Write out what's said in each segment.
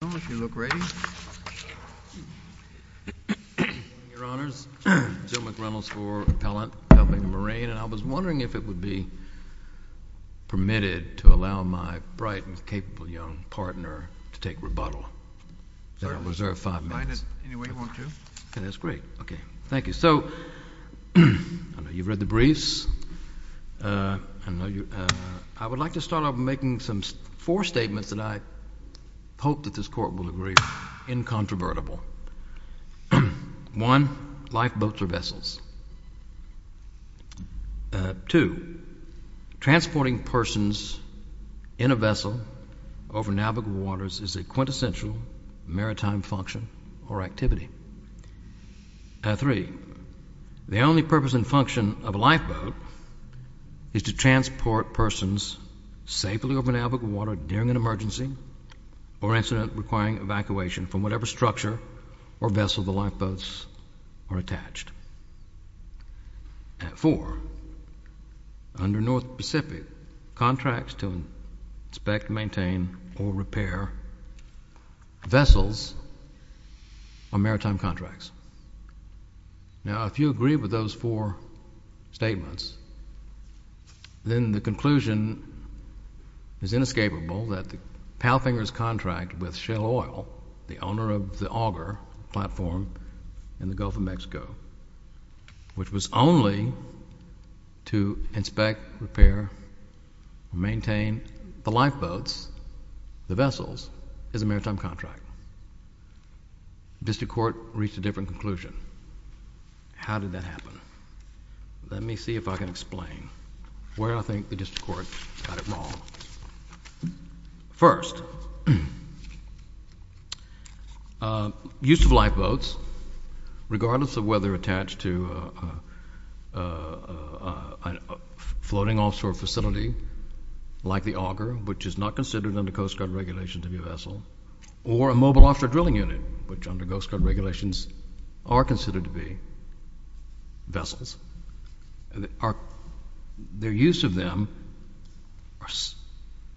Mr. McReynolds for Appellant, Palfinger Marine, and I was wondering if it would be permitted to allow my bright and capable young partner to take rebuttal, that I reserve five minutes. You can find it any way you want to. Okay, that's great. Okay, thank you. So, I know you've read the briefs. I would like to start off by making four statements that I hope that this Court will agree are incontrovertible. One, lifeboats are vessels. Two, transporting persons in a vessel over navigable waters is a quintessential maritime function or activity. Three, the only purpose and function of a vessel is to transport persons safely over navigable water during an emergency or incident requiring evacuation from whatever structure or vessel the lifeboats are attached. Four, under North Pacific contracts to inspect, maintain, or repair vessels are maritime contracts. Now, if you agree with those four statements, then the conclusion is inescapable that the Palfinger's contract with Shell Oil, the owner of the Auger platform in the Gulf of Mexico, which was only to inspect, repair, maintain the lifeboats, the vessels, is a maritime contract. The District Court reached a different conclusion. How did that happen? Let me see if I can explain where I think the District Court got it wrong. First, use of lifeboats, regardless of whether attached to a floating offshore facility like the Auger, which is not considered under Coast Guard regulations to be a vessel, or a mobile offshore drilling unit, which under Coast Guard regulations are considered to be vessels, their use of them are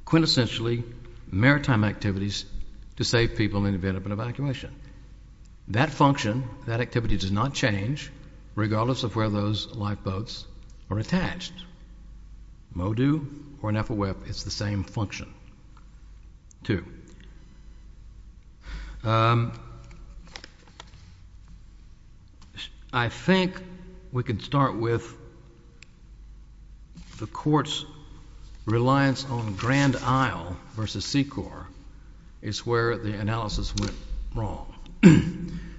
quintessentially maritime activities to save people in the event of an evacuation. That function, that activity does not change regardless of where those lifeboats are attached. MODU or an FOWEP, it's the same function, too. I think we can start with the Court's reliance on Grand Isle versus Secor is where the analysis went wrong.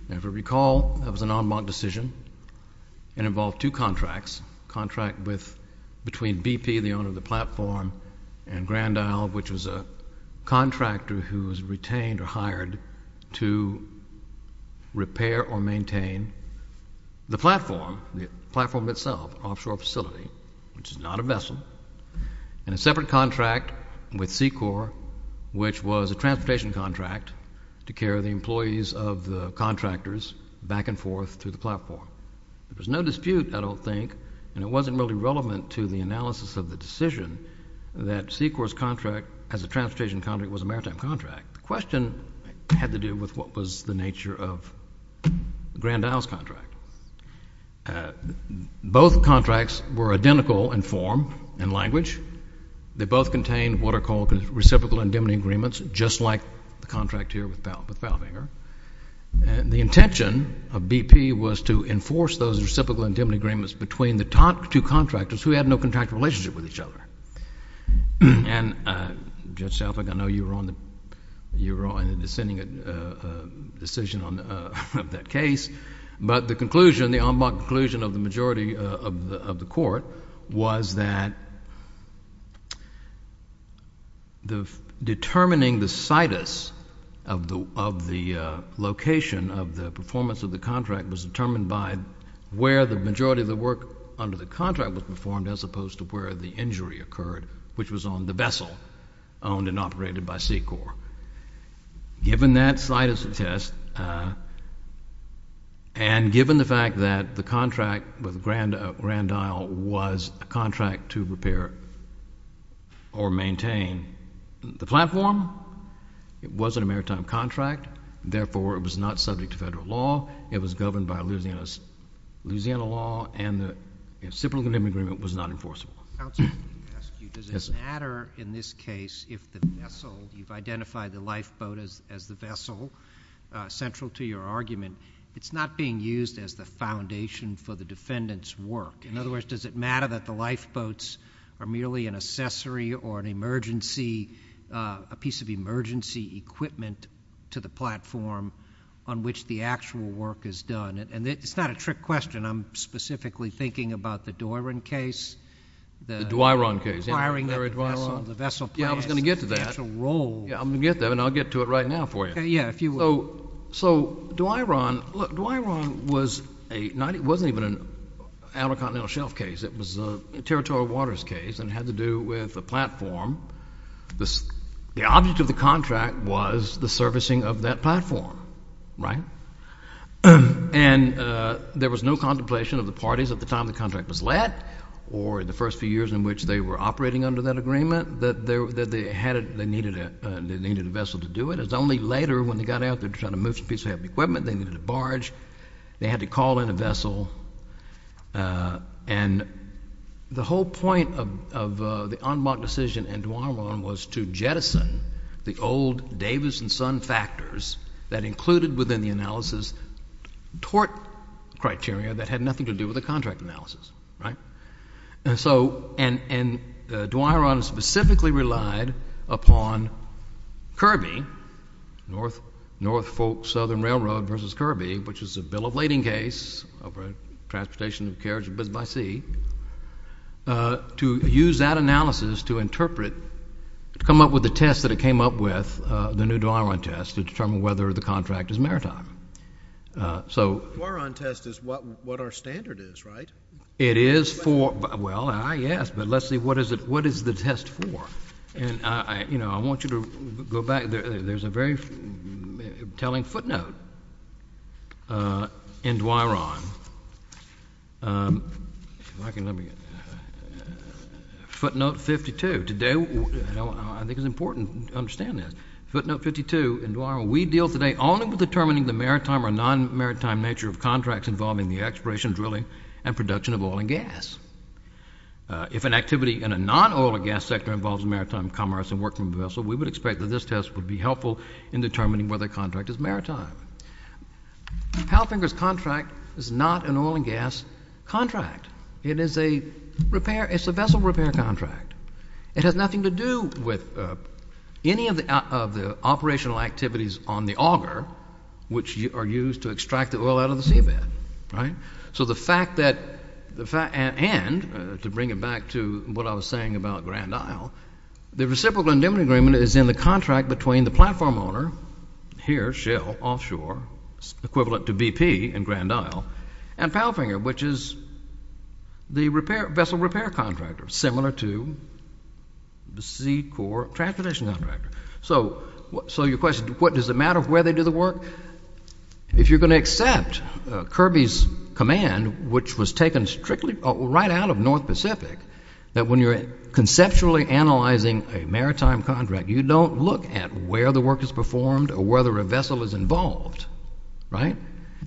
Now, if you recall, that was an en banc decision. It involved two contracts, between BP, the owner of the platform, and Grand Isle, which was a contractor who was retained or hired to repair or maintain the platform, the platform itself, offshore facility, which is not a vessel, and a separate contract with Secor, which was a transportation contract to carry the employees of the contractors back and forth to the platform. There was no dispute, I don't think, and it wasn't really relevant to the analysis of the decision that Secor's contract as a transportation contract was a maritime contract. The question had to do with what was the nature of Grand Isle's contract. Both contracts were identical in form and language. They both contained what are called reciprocal indemnity agreements, just like the contract here with the two contractors who had no contractual relationship with each other. Judge Selfick, I know you were on the dissenting decision of that case, but the en banc conclusion of the majority of the Court was that determining the situs of the location of the performance of the contract was determined by where the majority of the work under the contract was performed as opposed to where the injury occurred, which was on the vessel owned and operated by Secor. Given that situs test, and given the fact that the contract with Grand Isle was a contract to repair or maintain the platform, it wasn't a maritime contract, therefore it was not subject to federal law, it was governed by Louisiana law, and the reciprocal indemnity agreement was not enforceable. Counsel, let me ask you, does it matter in this case if the vessel, you've identified the lifeboat as the vessel, central to your argument, it's not being used as the foundation for the defendant's work? In other words, does it matter that the lifeboats are merely an accessory or an emergency, a piece of emergency equipment to the platform on which the actual work is done? It's not a trick question. I'm specifically thinking about the Doiron case. The Doiron case, yeah. Requiring the vessel. Yeah, I was going to get to that. Yeah, I'm going to get to that, and I'll get to it right now for you. Okay, yeah, if you would. So, Doiron, look, Doiron was a, it wasn't even an Outer Continental Shelf case, it was a territorial waters case, and it had to do with the platform. The object of the contract was the servicing of that platform, right? And there was no contemplation of the parties at the time the contract was let, or in the first few years in which they were operating under that agreement, that they needed a vessel to do it. It's only later, when they got out there to try to move some pieces of equipment, they needed a barge, they had to call in a vessel, and the whole point of the en banc decision in Doiron was to jettison the old Davis and Son factors that included within the analysis tort criteria that had nothing to do with the contract analysis, right? And so, and Doiron specifically relied upon Kirby, North Southern Railroad versus Kirby, which is a bill of lading case of a transportation of a carriage by sea, to use that analysis to interpret, to come up with the test that it came up with, the new Doiron test, to determine whether the contract is maritime. So, Doiron test is what our standard is, right? It is for, well, yes, but let's see, what is it, you know, I want you to go back, there's a very telling footnote in Doiron, footnote 52, today, I think it's important to understand this, footnote 52 in Doiron, we deal today only with determining the maritime or non-maritime nature of contracts involving the exploration, drilling, and production of oil and gas. If an activity in a non-oil and gas sector involves maritime commerce and work from vessel, we would expect that this test would be helpful in determining whether a contract is maritime. Palfinger's contract is not an oil and gas contract, it is a repair, it's a vessel repair contract. It has nothing to do with any of the operational activities on the auger, which are used to extract the oil out of the seabed, right? So the fact that, and to bring it back to what I was saying about Grand Isle, the reciprocal indemnity agreement is in the contract between the platform owner, here, Shell, offshore, equivalent to BP in Grand Isle, and Palfinger, which is the vessel repair contractor, similar to the Seacorp transportation contractor. So, your question, does it matter where they do the work? If you're going to accept Kirby's command, which was taken strictly right out of North Pacific, that when you're conceptually analyzing a maritime contract, you don't look at where the work is performed or whether a vessel is involved, right?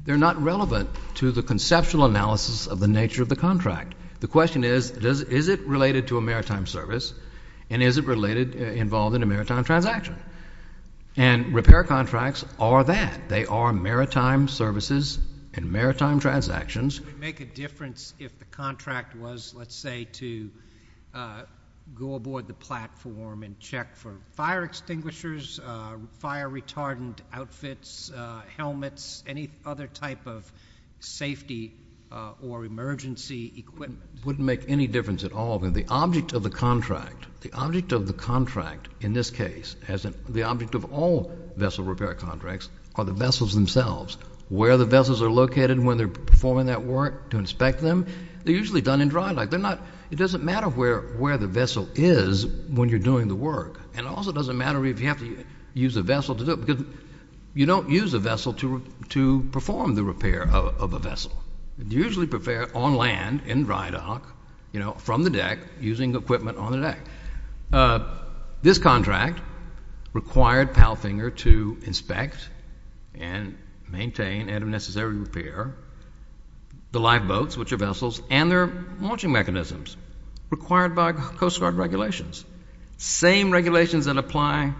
They're not relevant to the conceptual analysis of the nature of the contract. The question is, is it related to a maritime service, and is it involved in a maritime transaction? And repair contracts are that. They are maritime services and maritime transactions. Would it make a difference if the contract was, let's say, to go aboard the platform and check for fire extinguishers, fire retardant outfits, helmets, any other type of safety or emergency equipment? It wouldn't make any difference at all. The object of the contract, the object of the contract, in this case, the object of all vessel repair contracts are the vessels themselves. Where the vessels are located when they're performing that work to inspect them, they're usually done in dry dock. It doesn't matter where the vessel is when you're doing the work, and it also doesn't matter if you have to use a vessel to do it, because you don't use a vessel to perform the repair of a vessel. You usually repair on land, in dry dock, from the deck, using equipment on the deck. This contract required PALFINGER to inspect and maintain and, if necessary, repair the live boats, which are vessels, and their launching mechanisms, required by Coast Guard regulations. Same regulations that apply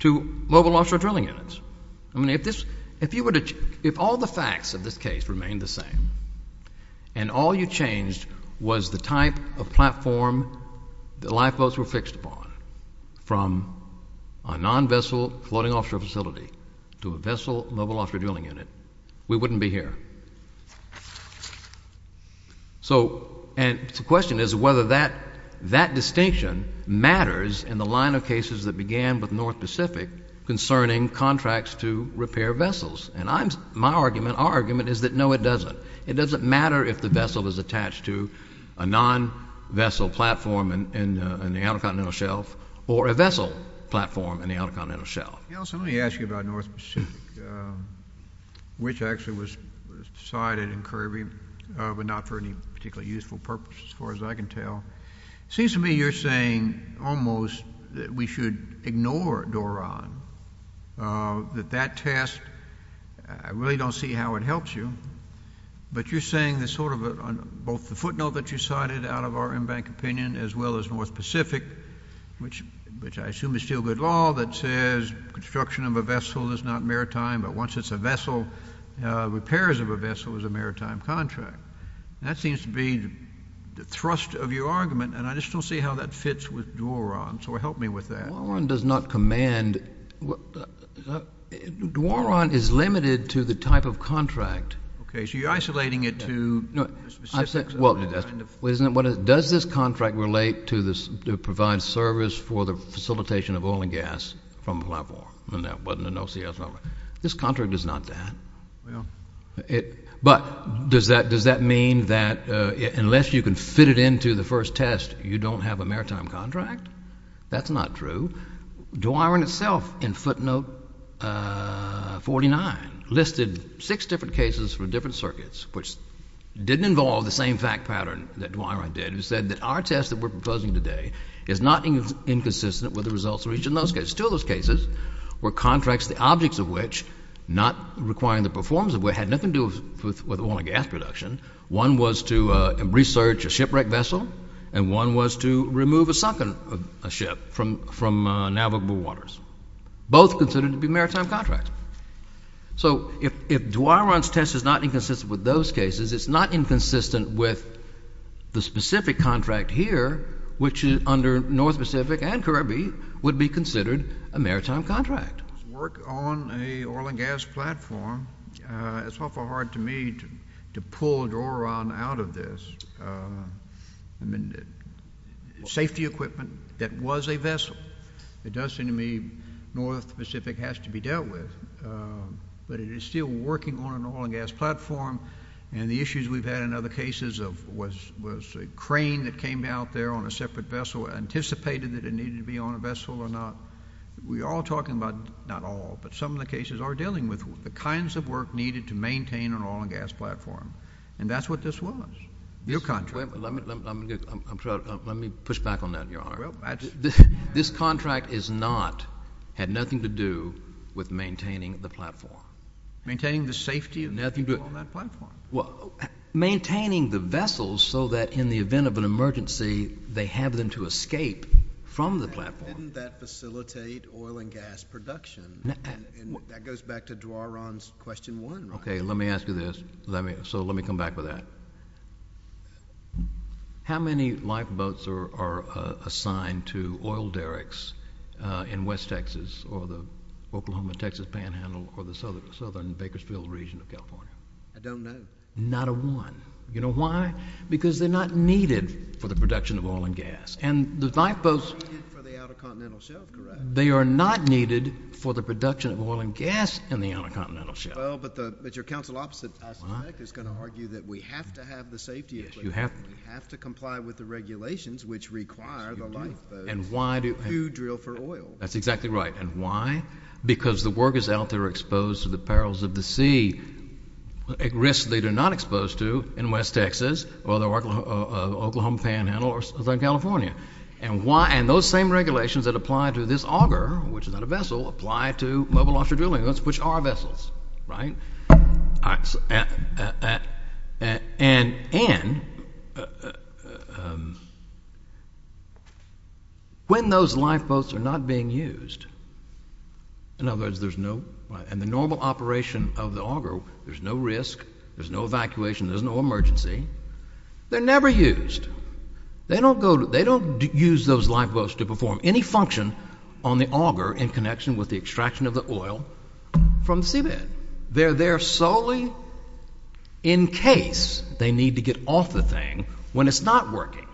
to mobile offshore drilling units. I mean, if all the facts of this case remained the same, and all you changed was the type of platform the lifeboats were fixed upon, from a non-vessel floating offshore facility to a vessel mobile offshore drilling unit, we wouldn't be here. So, and the question is whether that, that distinction matters in the line of cases that began with North Pacific concerning contracts to repair vessels, and I'm, my argument, our argument is that no, it doesn't. It doesn't matter if the vessel is attached to a non-vessel platform in the Outer Continental Shelf or a vessel platform in the Outer Continental Shelf. Nelson, let me ask you about North Pacific, which actually was decided in Kirby, but not for any particularly useful purpose, as far as I can tell. It seems to me you're saying, almost, that we should ignore Doron, that that test, I really don't see how it helps you, but you're saying there's sort of a, both the footnote that you cited out of our in-bank opinion, as well as North Pacific, which, which I assume is still good law, that says construction of a vessel is not maritime, but once it's a vessel, repairs of a vessel is a maritime contract. That seems to be the thrust of your argument, and I just don't see how that fits with Doron, so help me with that. Doron does not command, what, Doron is limited to the type of contract. Okay, so you're isolating it to the specifics. Well, isn't it, what does, does this contract relate to this, to provide service for the facilitation of oil and gas from a platform? And that wasn't an OCS number. This contract is not that. But does that, does that mean that unless you can fit it into the first test, you don't have a maritime contract? That's not true. Doron itself, in footnote 49, listed six different cases from different circuits, which didn't involve the same fact pattern that Doron did, who said that our test that we're proposing today is not inconsistent with the results of each of those cases. Two of those cases were contracts, the objects of which, not requiring the performance of, had nothing to do with oil and gas production. One was to research a shipwrecked vessel, and one was to remove a sunken ship from, from navigable waters. Both considered to be maritime contracts. So if, if Doron's test is not inconsistent with those cases, it's not inconsistent with the specific contract here, which is under North Pacific and Caribbean, would be considered a maritime contract. Work on a oil and gas platform, it's awful hard to me to, to pull Doron out of this. Safety equipment that was a vessel, it does seem to me North Pacific has to be dealt with. But it is still working on an oil and gas platform. And the issues we've had in other cases of, was, was a crane that came out there on a separate vessel, anticipated that it needed to be on a vessel or not. We are all talking about, not all, but some of the cases are dealing with the kinds of work needed to maintain an oil and gas platform. And that's what this was. Your contract. Let me, let me, I'm sorry, let me push back on that, Your Honor. This contract is not, had nothing to do with maintaining the platform. Maintaining the safety of nothing on that platform. Well, maintaining the vessels so that in the event of an emergency, they have them to escape from the platform. Didn't that facilitate oil and gas production? And that goes back to Doron's question one. Okay. Let me ask you this. Let me, so let me come back with that. How many lifeboats are, are assigned to oil derricks in West Texas or the Oklahoma, Texas panhandle or the Southern, Southern Bakersfield region of California? I don't know. Not a one. You know why? Because they're not needed for the production of oil and gas and the lifeboats for the outer continental shelf. Correct. They are not needed for the production of oil and gas in the outer continental shelf. Well, but the, but your counsel opposite is going to argue that we have to have the safety issue. You have to comply with the regulations which require the lifeboats. And why do you drill for oil? That's exactly right. And why? Because the workers out there are exposed to the perils of the sea. It risks they do not expose to in West Texas or the Oklahoma panhandle or Southern California. And why? And those same regulations that apply to this auger, which is not a vessel, apply to mobile offshore drilling, which are vessels, right? And, and when those lifeboats are not being used, in other words, there's no, and the normal operation of the auger, there's no risk, there's no evacuation, there's no emergency. They're never used. They don't go, they don't use those lifeboats to perform any function on the auger in connection with the extraction of the oil from the seabed. They're there solely in case they need to get off the thing when it's not working.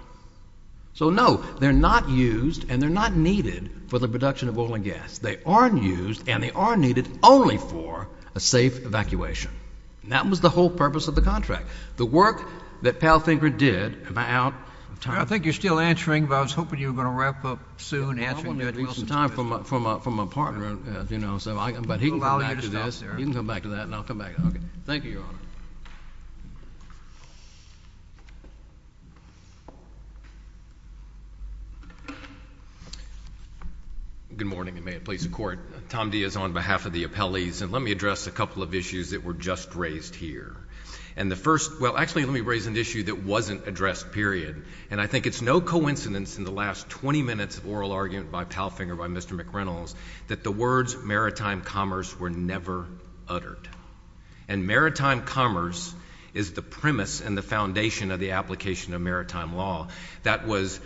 So no, they're not used and they're not needed for the production of oil and gas. They aren't used and they are needed only for a safe evacuation. And that was the whole purpose of the contract. The work that Pal Finker did about time. I think you're still answering, but I was hoping you were going to wrap up soon. I'm going to need some time from my, from my, from my partner, you know, so I, but he can come back to this. He can come back to that and I'll come back. Okay. Thank you, Your Tom Diaz on behalf of the appellees. And let me address a couple of issues that were just raised here. And the first, well, actually let me raise an issue that wasn't addressed period. And I think it's no coincidence in the last 20 minutes of oral argument by Pal Finker, by Mr. McReynolds, that the words maritime commerce were never uttered and maritime commerce is the premise and the foundation of the application of maritime law that was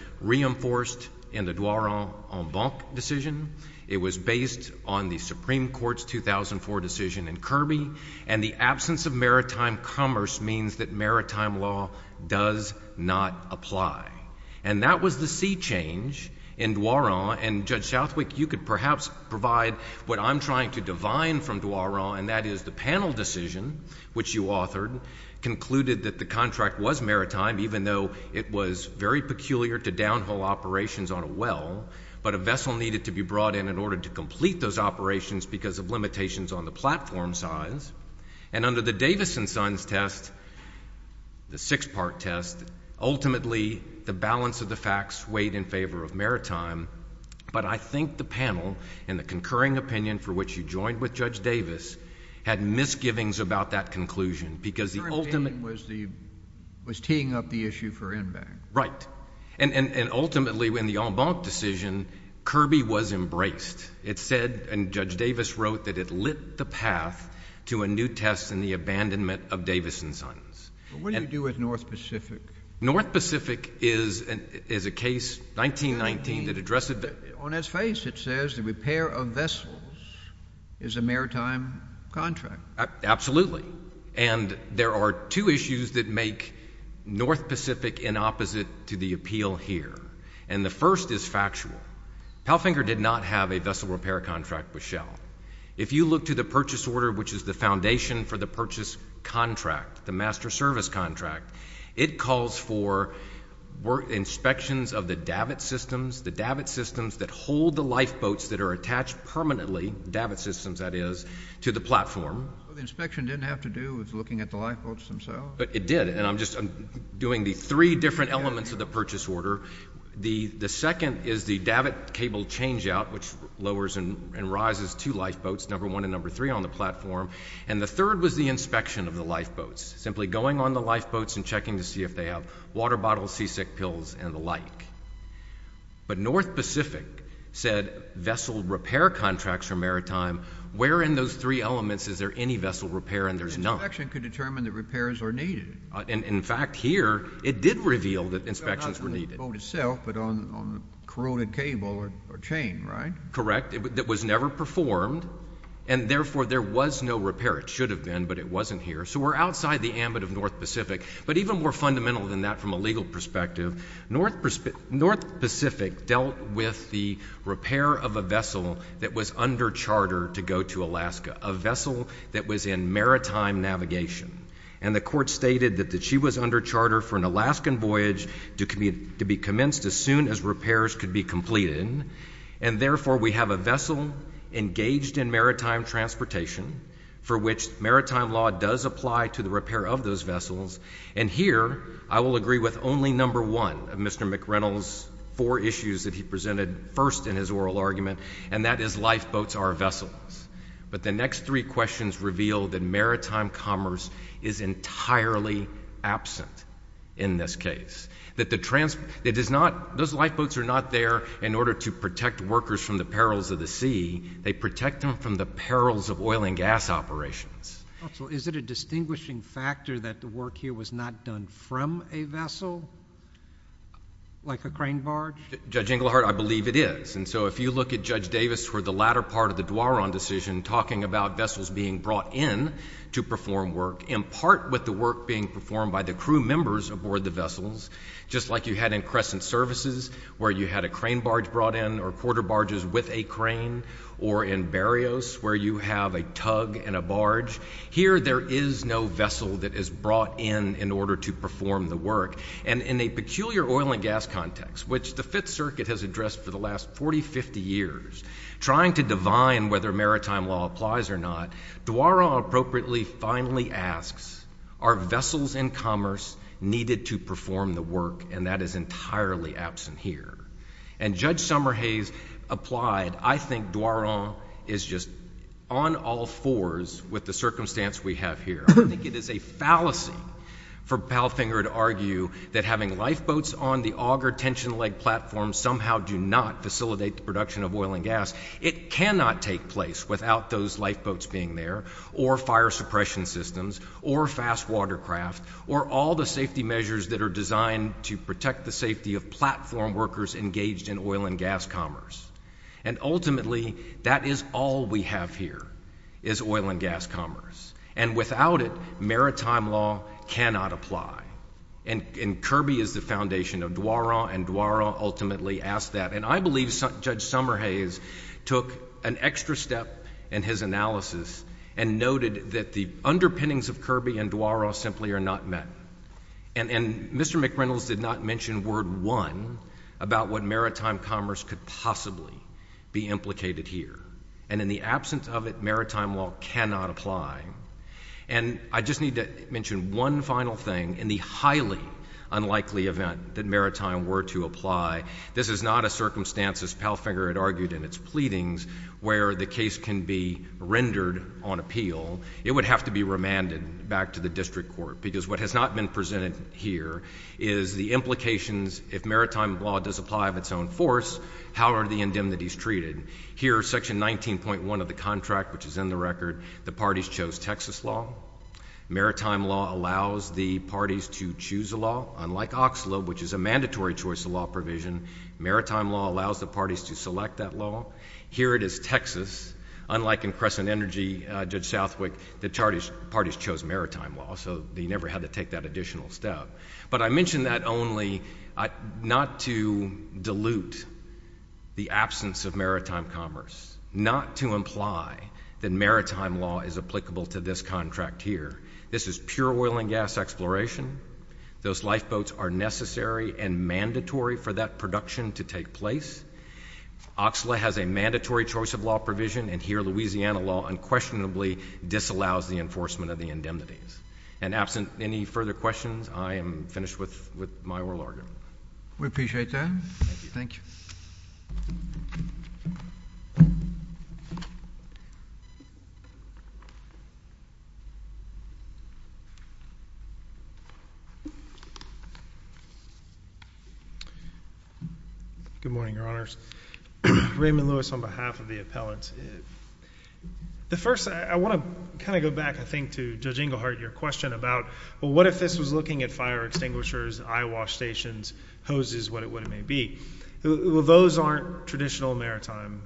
based on the Supreme Court's 2004 decision in Kirby. And the absence of maritime commerce means that maritime law does not apply. And that was the sea change in Dwaron and Judge Southwick, you could perhaps provide what I'm trying to divine from Dwaron. And that is the panel decision, which you authored concluded that the contract was maritime, even though it was very peculiar to downhole operations on a well, but a vessel needed to be brought in in order to complete those operations because of limitations on the platform size. And under the Davis and Sons test, the six part test, ultimately the balance of the facts weighed in favor of maritime. But I think the panel and the concurring opinion for which you joined with Judge Davis had misgivings about that conclusion because the ultimate was the was teeing up the issue for and ultimately when the en banc decision, Kirby was embraced. It said and Judge Davis wrote that it lit the path to a new test in the abandonment of Davis and Sons. What do you do with North Pacific? North Pacific is a case 1919 that addressed on its face, it says the repair of vessels is a maritime contract. Absolutely. And there are two issues that make North Pacific in opposite to the appeal here. And the first is factual. Palfinger did not have a vessel repair contract with Shell. If you look to the purchase order, which is the foundation for the purchase contract, the master service contract, it calls for inspections of the davit systems, the davit systems that hold the lifeboats that are attached permanently, davit systems that is, to the platform. The inspection didn't have to do with looking at the lifeboats themselves, but it did. And I'm just doing the three different elements of the purchase order. The second is the davit cable change out, which lowers and rises to lifeboats, number one and number three on the platform. And the third was the inspection of the lifeboats, simply going on the lifeboats and checking to see if they have water bottles, seasick pills and the like. But North Pacific said vessel repair contracts for maritime where in those three elements, is there any vessel repair? And there's no action could determine the repairs are needed. And in fact, here it did reveal that inspections were needed itself, but on corroded cable or chain, right? Correct. It was never performed. And therefore, there was no repair. It should have been, but it wasn't here. So we're outside the ambit of North Pacific. But even more fundamental than that, from a legal perspective, North Pacific, North Pacific dealt with the repair of a vessel that was under charter to go to Alaska, a vessel that was in maritime navigation. And the court stated that she was under charter for an Alaskan voyage to be commenced as soon as repairs could be completed. And therefore, we have a vessel engaged in maritime transportation for which maritime law does apply to the repair of those vessels. And here, I will agree with only number one of Mr. McReynolds, four issues that he presented first in his oral argument, and that is lifeboats are vessels. But the next three questions reveal that maritime commerce is entirely absent in this case, that the trans it is not those lifeboats are not there in order to protect workers from the perils of the sea. They protect them from the perils of oil and gas operations. So is it a distinguishing factor that the work here was not done from a vessel? Like a crane barge? Judge Inglehart, I believe it is. And so if you look at Judge Davis for the latter part of the Dwaron decision, talking about vessels being brought in to perform work, in part with the work being performed by the crew members aboard the vessels, just like you had in Crescent Services, where you had a crane barge brought in or quarter barges with a crane, or in Berrios, where you have a tug and a barge. Here, there is no vessel that is brought in in order to perform the work. And in a peculiar oil and gas context, which the Fifth Circuit has addressed for the last 40, 50 years, trying to divine whether maritime law applies or not, Dwaron appropriately finally asks, are vessels in commerce needed to perform the work? And that is entirely absent here. And Judge Summerhays applied. I think Dwaron is just on all fours with the circumstance we have here. I think it is a fallacy for Palfinger to argue that having lifeboats on the auger tension leg platform somehow do not facilitate the production of oil and gas. It cannot take place without those lifeboats being there, or fire suppression systems, or fast watercraft, or all the safety measures that are designed to protect the safety of platform workers engaged in oil and maritime law cannot apply. And Kirby is the foundation of Dwaron, and Dwaron ultimately asked that. And I believe Judge Summerhays took an extra step in his analysis and noted that the underpinnings of Kirby and Dwaron simply are not met. And Mr. McReynolds did not mention word one about what maritime commerce could possibly be implicated here. And in the absence of it, I just need to mention one final thing. In the highly unlikely event that maritime were to apply, this is not a circumstance, as Palfinger had argued in its pleadings, where the case can be rendered on appeal. It would have to be remanded back to the district court. Because what has not been presented here is the implications if maritime law does apply of its own force, how are the indemnities treated? Here, section 19.1 of the contract, which is in the record, the parties chose Texas law. Maritime law allows the parties to choose a law. Unlike Oxalib, which is a mandatory choice of law provision, maritime law allows the parties to select that law. Here it is Texas. Unlike in Crescent Energy, Judge Southwick, the parties chose maritime law, so they never had to take that additional step. But I mention that only not to dilute the absence of maritime commerce, not to imply that maritime law is applicable to this contract here. This is pure oil and gas exploration. Those lifeboats are necessary and mandatory for that production to take place. Oxalib has a mandatory choice of law provision, and here Louisiana law unquestionably disallows the enforcement of the indemnities. And absent any further questions, I am finished with my oral argument. We appreciate that. Thank you. Good morning, Your Honors. Raymond Lewis on behalf of the appellants. The first, I want to kind of go back, I think, to Judge Inglehart, your question about, well, what if this was looking at fire extinguishers, eyewash stations, hoses, what it may be. Well, those aren't traditional maritime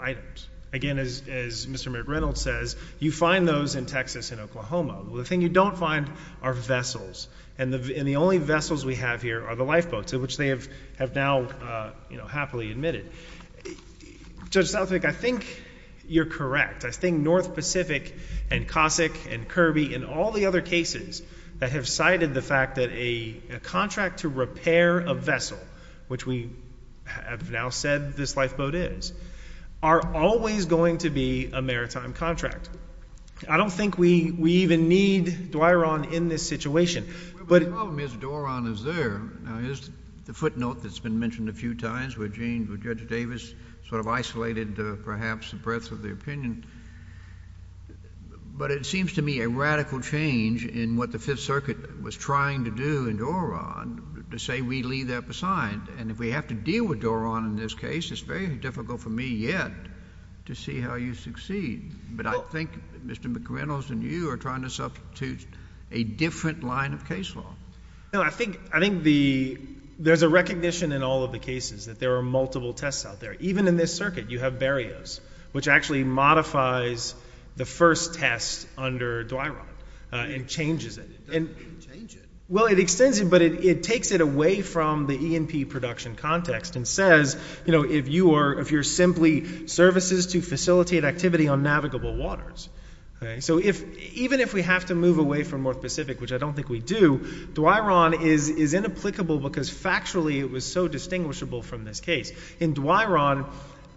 items. Again, as Mr. Merrick Reynolds says, you find those in Texas and Oklahoma. Well, the thing you don't find are vessels. And the only vessels we have here are the lifeboats, which they have now, you know, happily admitted. Judge Southwick, I think you're correct. I think North Pacific and Cossack and Kirby and all the other cases that have cited the fact that a contract to repair a vessel, which we have now said this lifeboat is, are always going to be a maritime contract. I don't think we even need Dworon in this situation. Well, the problem is Dworon is there. Now, here's the footnote that's been mentioned a few times where Judge Davis sort of isolated perhaps the breadth of the opinion. But it seems to me a radical change in what the Fifth Circuit was trying to do in Dworon to say we leave that beside. And if we have to deal with Dworon in this case, it's very difficult for me yet to see how you succeed. But I think Mr. McReynolds and you are trying to substitute a different line of case law. No, I think, I think there's a recognition in all of the cases that there are multiple tests out there, even in this circuit, you have barriers, which actually modifies the first test under Dworon and changes it. It doesn't change it. Well, it extends it, but it takes it away from the E&P production context and says, you know, if you are, if you're simply services to facilitate activity on navigable waters, okay. So if, even if we have to move away from North Pacific, which I don't think we do, Dworon is, is inapplicable because factually it was so distinguishable from this case. In Dworon,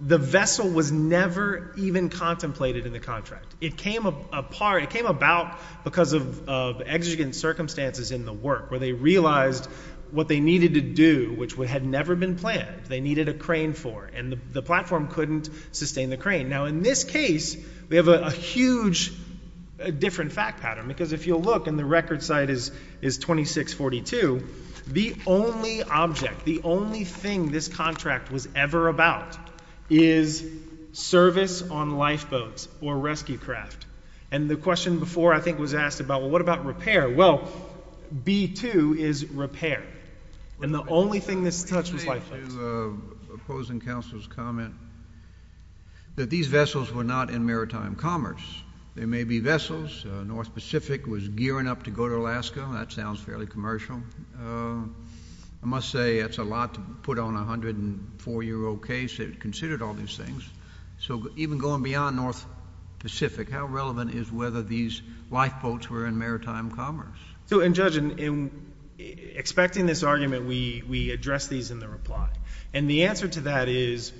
the vessel was never even contemplated in the contract. It came apart, it came about because of, of exigent circumstances in the work where they realized what they needed to do, which would, had never been planned. They needed a crane for, and the platform couldn't sustain the crane. Now, in this case, we have a huge, a different fact pattern, because if you'll look and the record site is, is 2642, the only object, the only thing this contract was ever about is service on lifeboats or rescue craft. And the question before, I think, was asked about, well, what about repair? Well, B-2 is repair. And the only thing this touched was lifeboats. Let me say to opposing counsel's comment that these vessels were not in maritime commerce. There may be vessels. North Pacific was gearing up to go to Alaska. That sounds fairly commercial. I must say it's a lot to put on a 104-year-old case that considered all these things. So even going beyond North Pacific, how relevant is whether these lifeboats were in maritime commerce? So, and Judge, in expecting this argument, we, we address these in the reply. And the answer to that is,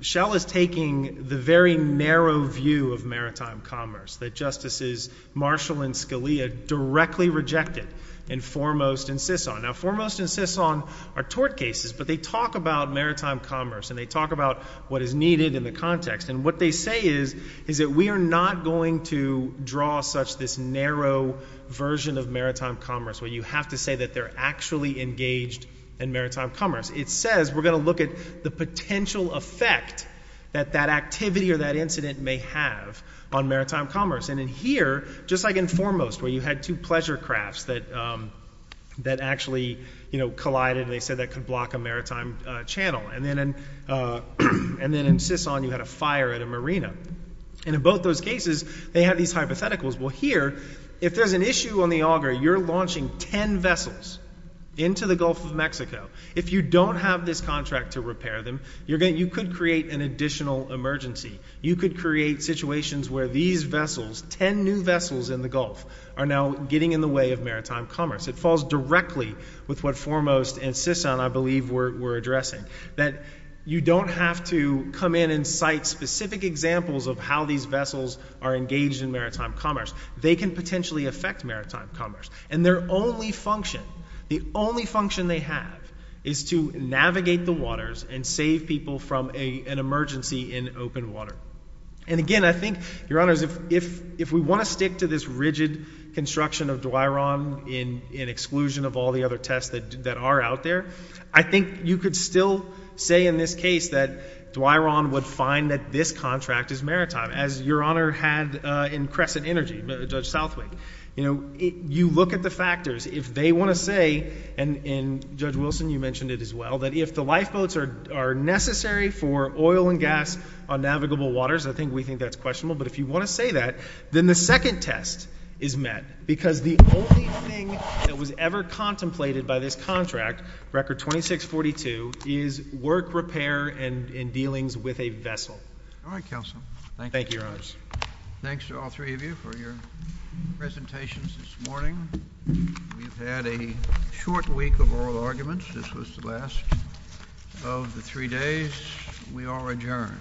Shell is taking the very narrow view of maritime commerce that Justices Marshall and Scalia directly rejected in Foremost and Sison. Now, Foremost and Sison are tort cases, but they talk about maritime commerce, and they talk about what is needed in the context. And what they say is, is that we are not going to draw such this narrow version of maritime commerce, where you have to say that they're actually engaged in maritime commerce. It says, we're going to look at the potential effect that that activity or that incident may have on maritime commerce. And in here, just like in Foremost, where you had two pleasure crafts that, that actually, you know, collided, and they said that could block a maritime channel. And then, and then in Sison, you had a fire at a marina. And in both those cases, they have these hypotheticals. Well, here, if there's an issue on the auger, you're launching 10 vessels into the Gulf of Mexico. If you don't have this contract to repair them, you're going, you could create an additional emergency. You could create situations where these vessels, 10 new vessels in the Gulf, are now getting in the way of maritime commerce. It falls directly with what Foremost and Sison, I believe, were addressing, that you don't have to come in and cite specific examples of how these vessels are engaged in maritime commerce. And their only function, the only function they have, is to navigate the waters and save people from a, an emergency in open water. And again, I think, Your Honors, if, if, if we want to stick to this rigid construction of Duaron in, in exclusion of all the other tests that, that are out there, I think you could still say in this case that Duaron would find that this you look at the factors. If they want to say, and, and Judge Wilson, you mentioned it as well, that if the lifeboats are, are necessary for oil and gas on navigable waters, I think we think that's questionable. But if you want to say that, then the second test is met. Because the only thing that was ever contemplated by this contract, Record 2642, is work repair and, and dealings with a vessel. All right, Counsel. Thank you, Your Honors. Thanks to all three of you for your presentations this morning. We've had a short week of oral arguments. This was the last of the three days. We are adjourned.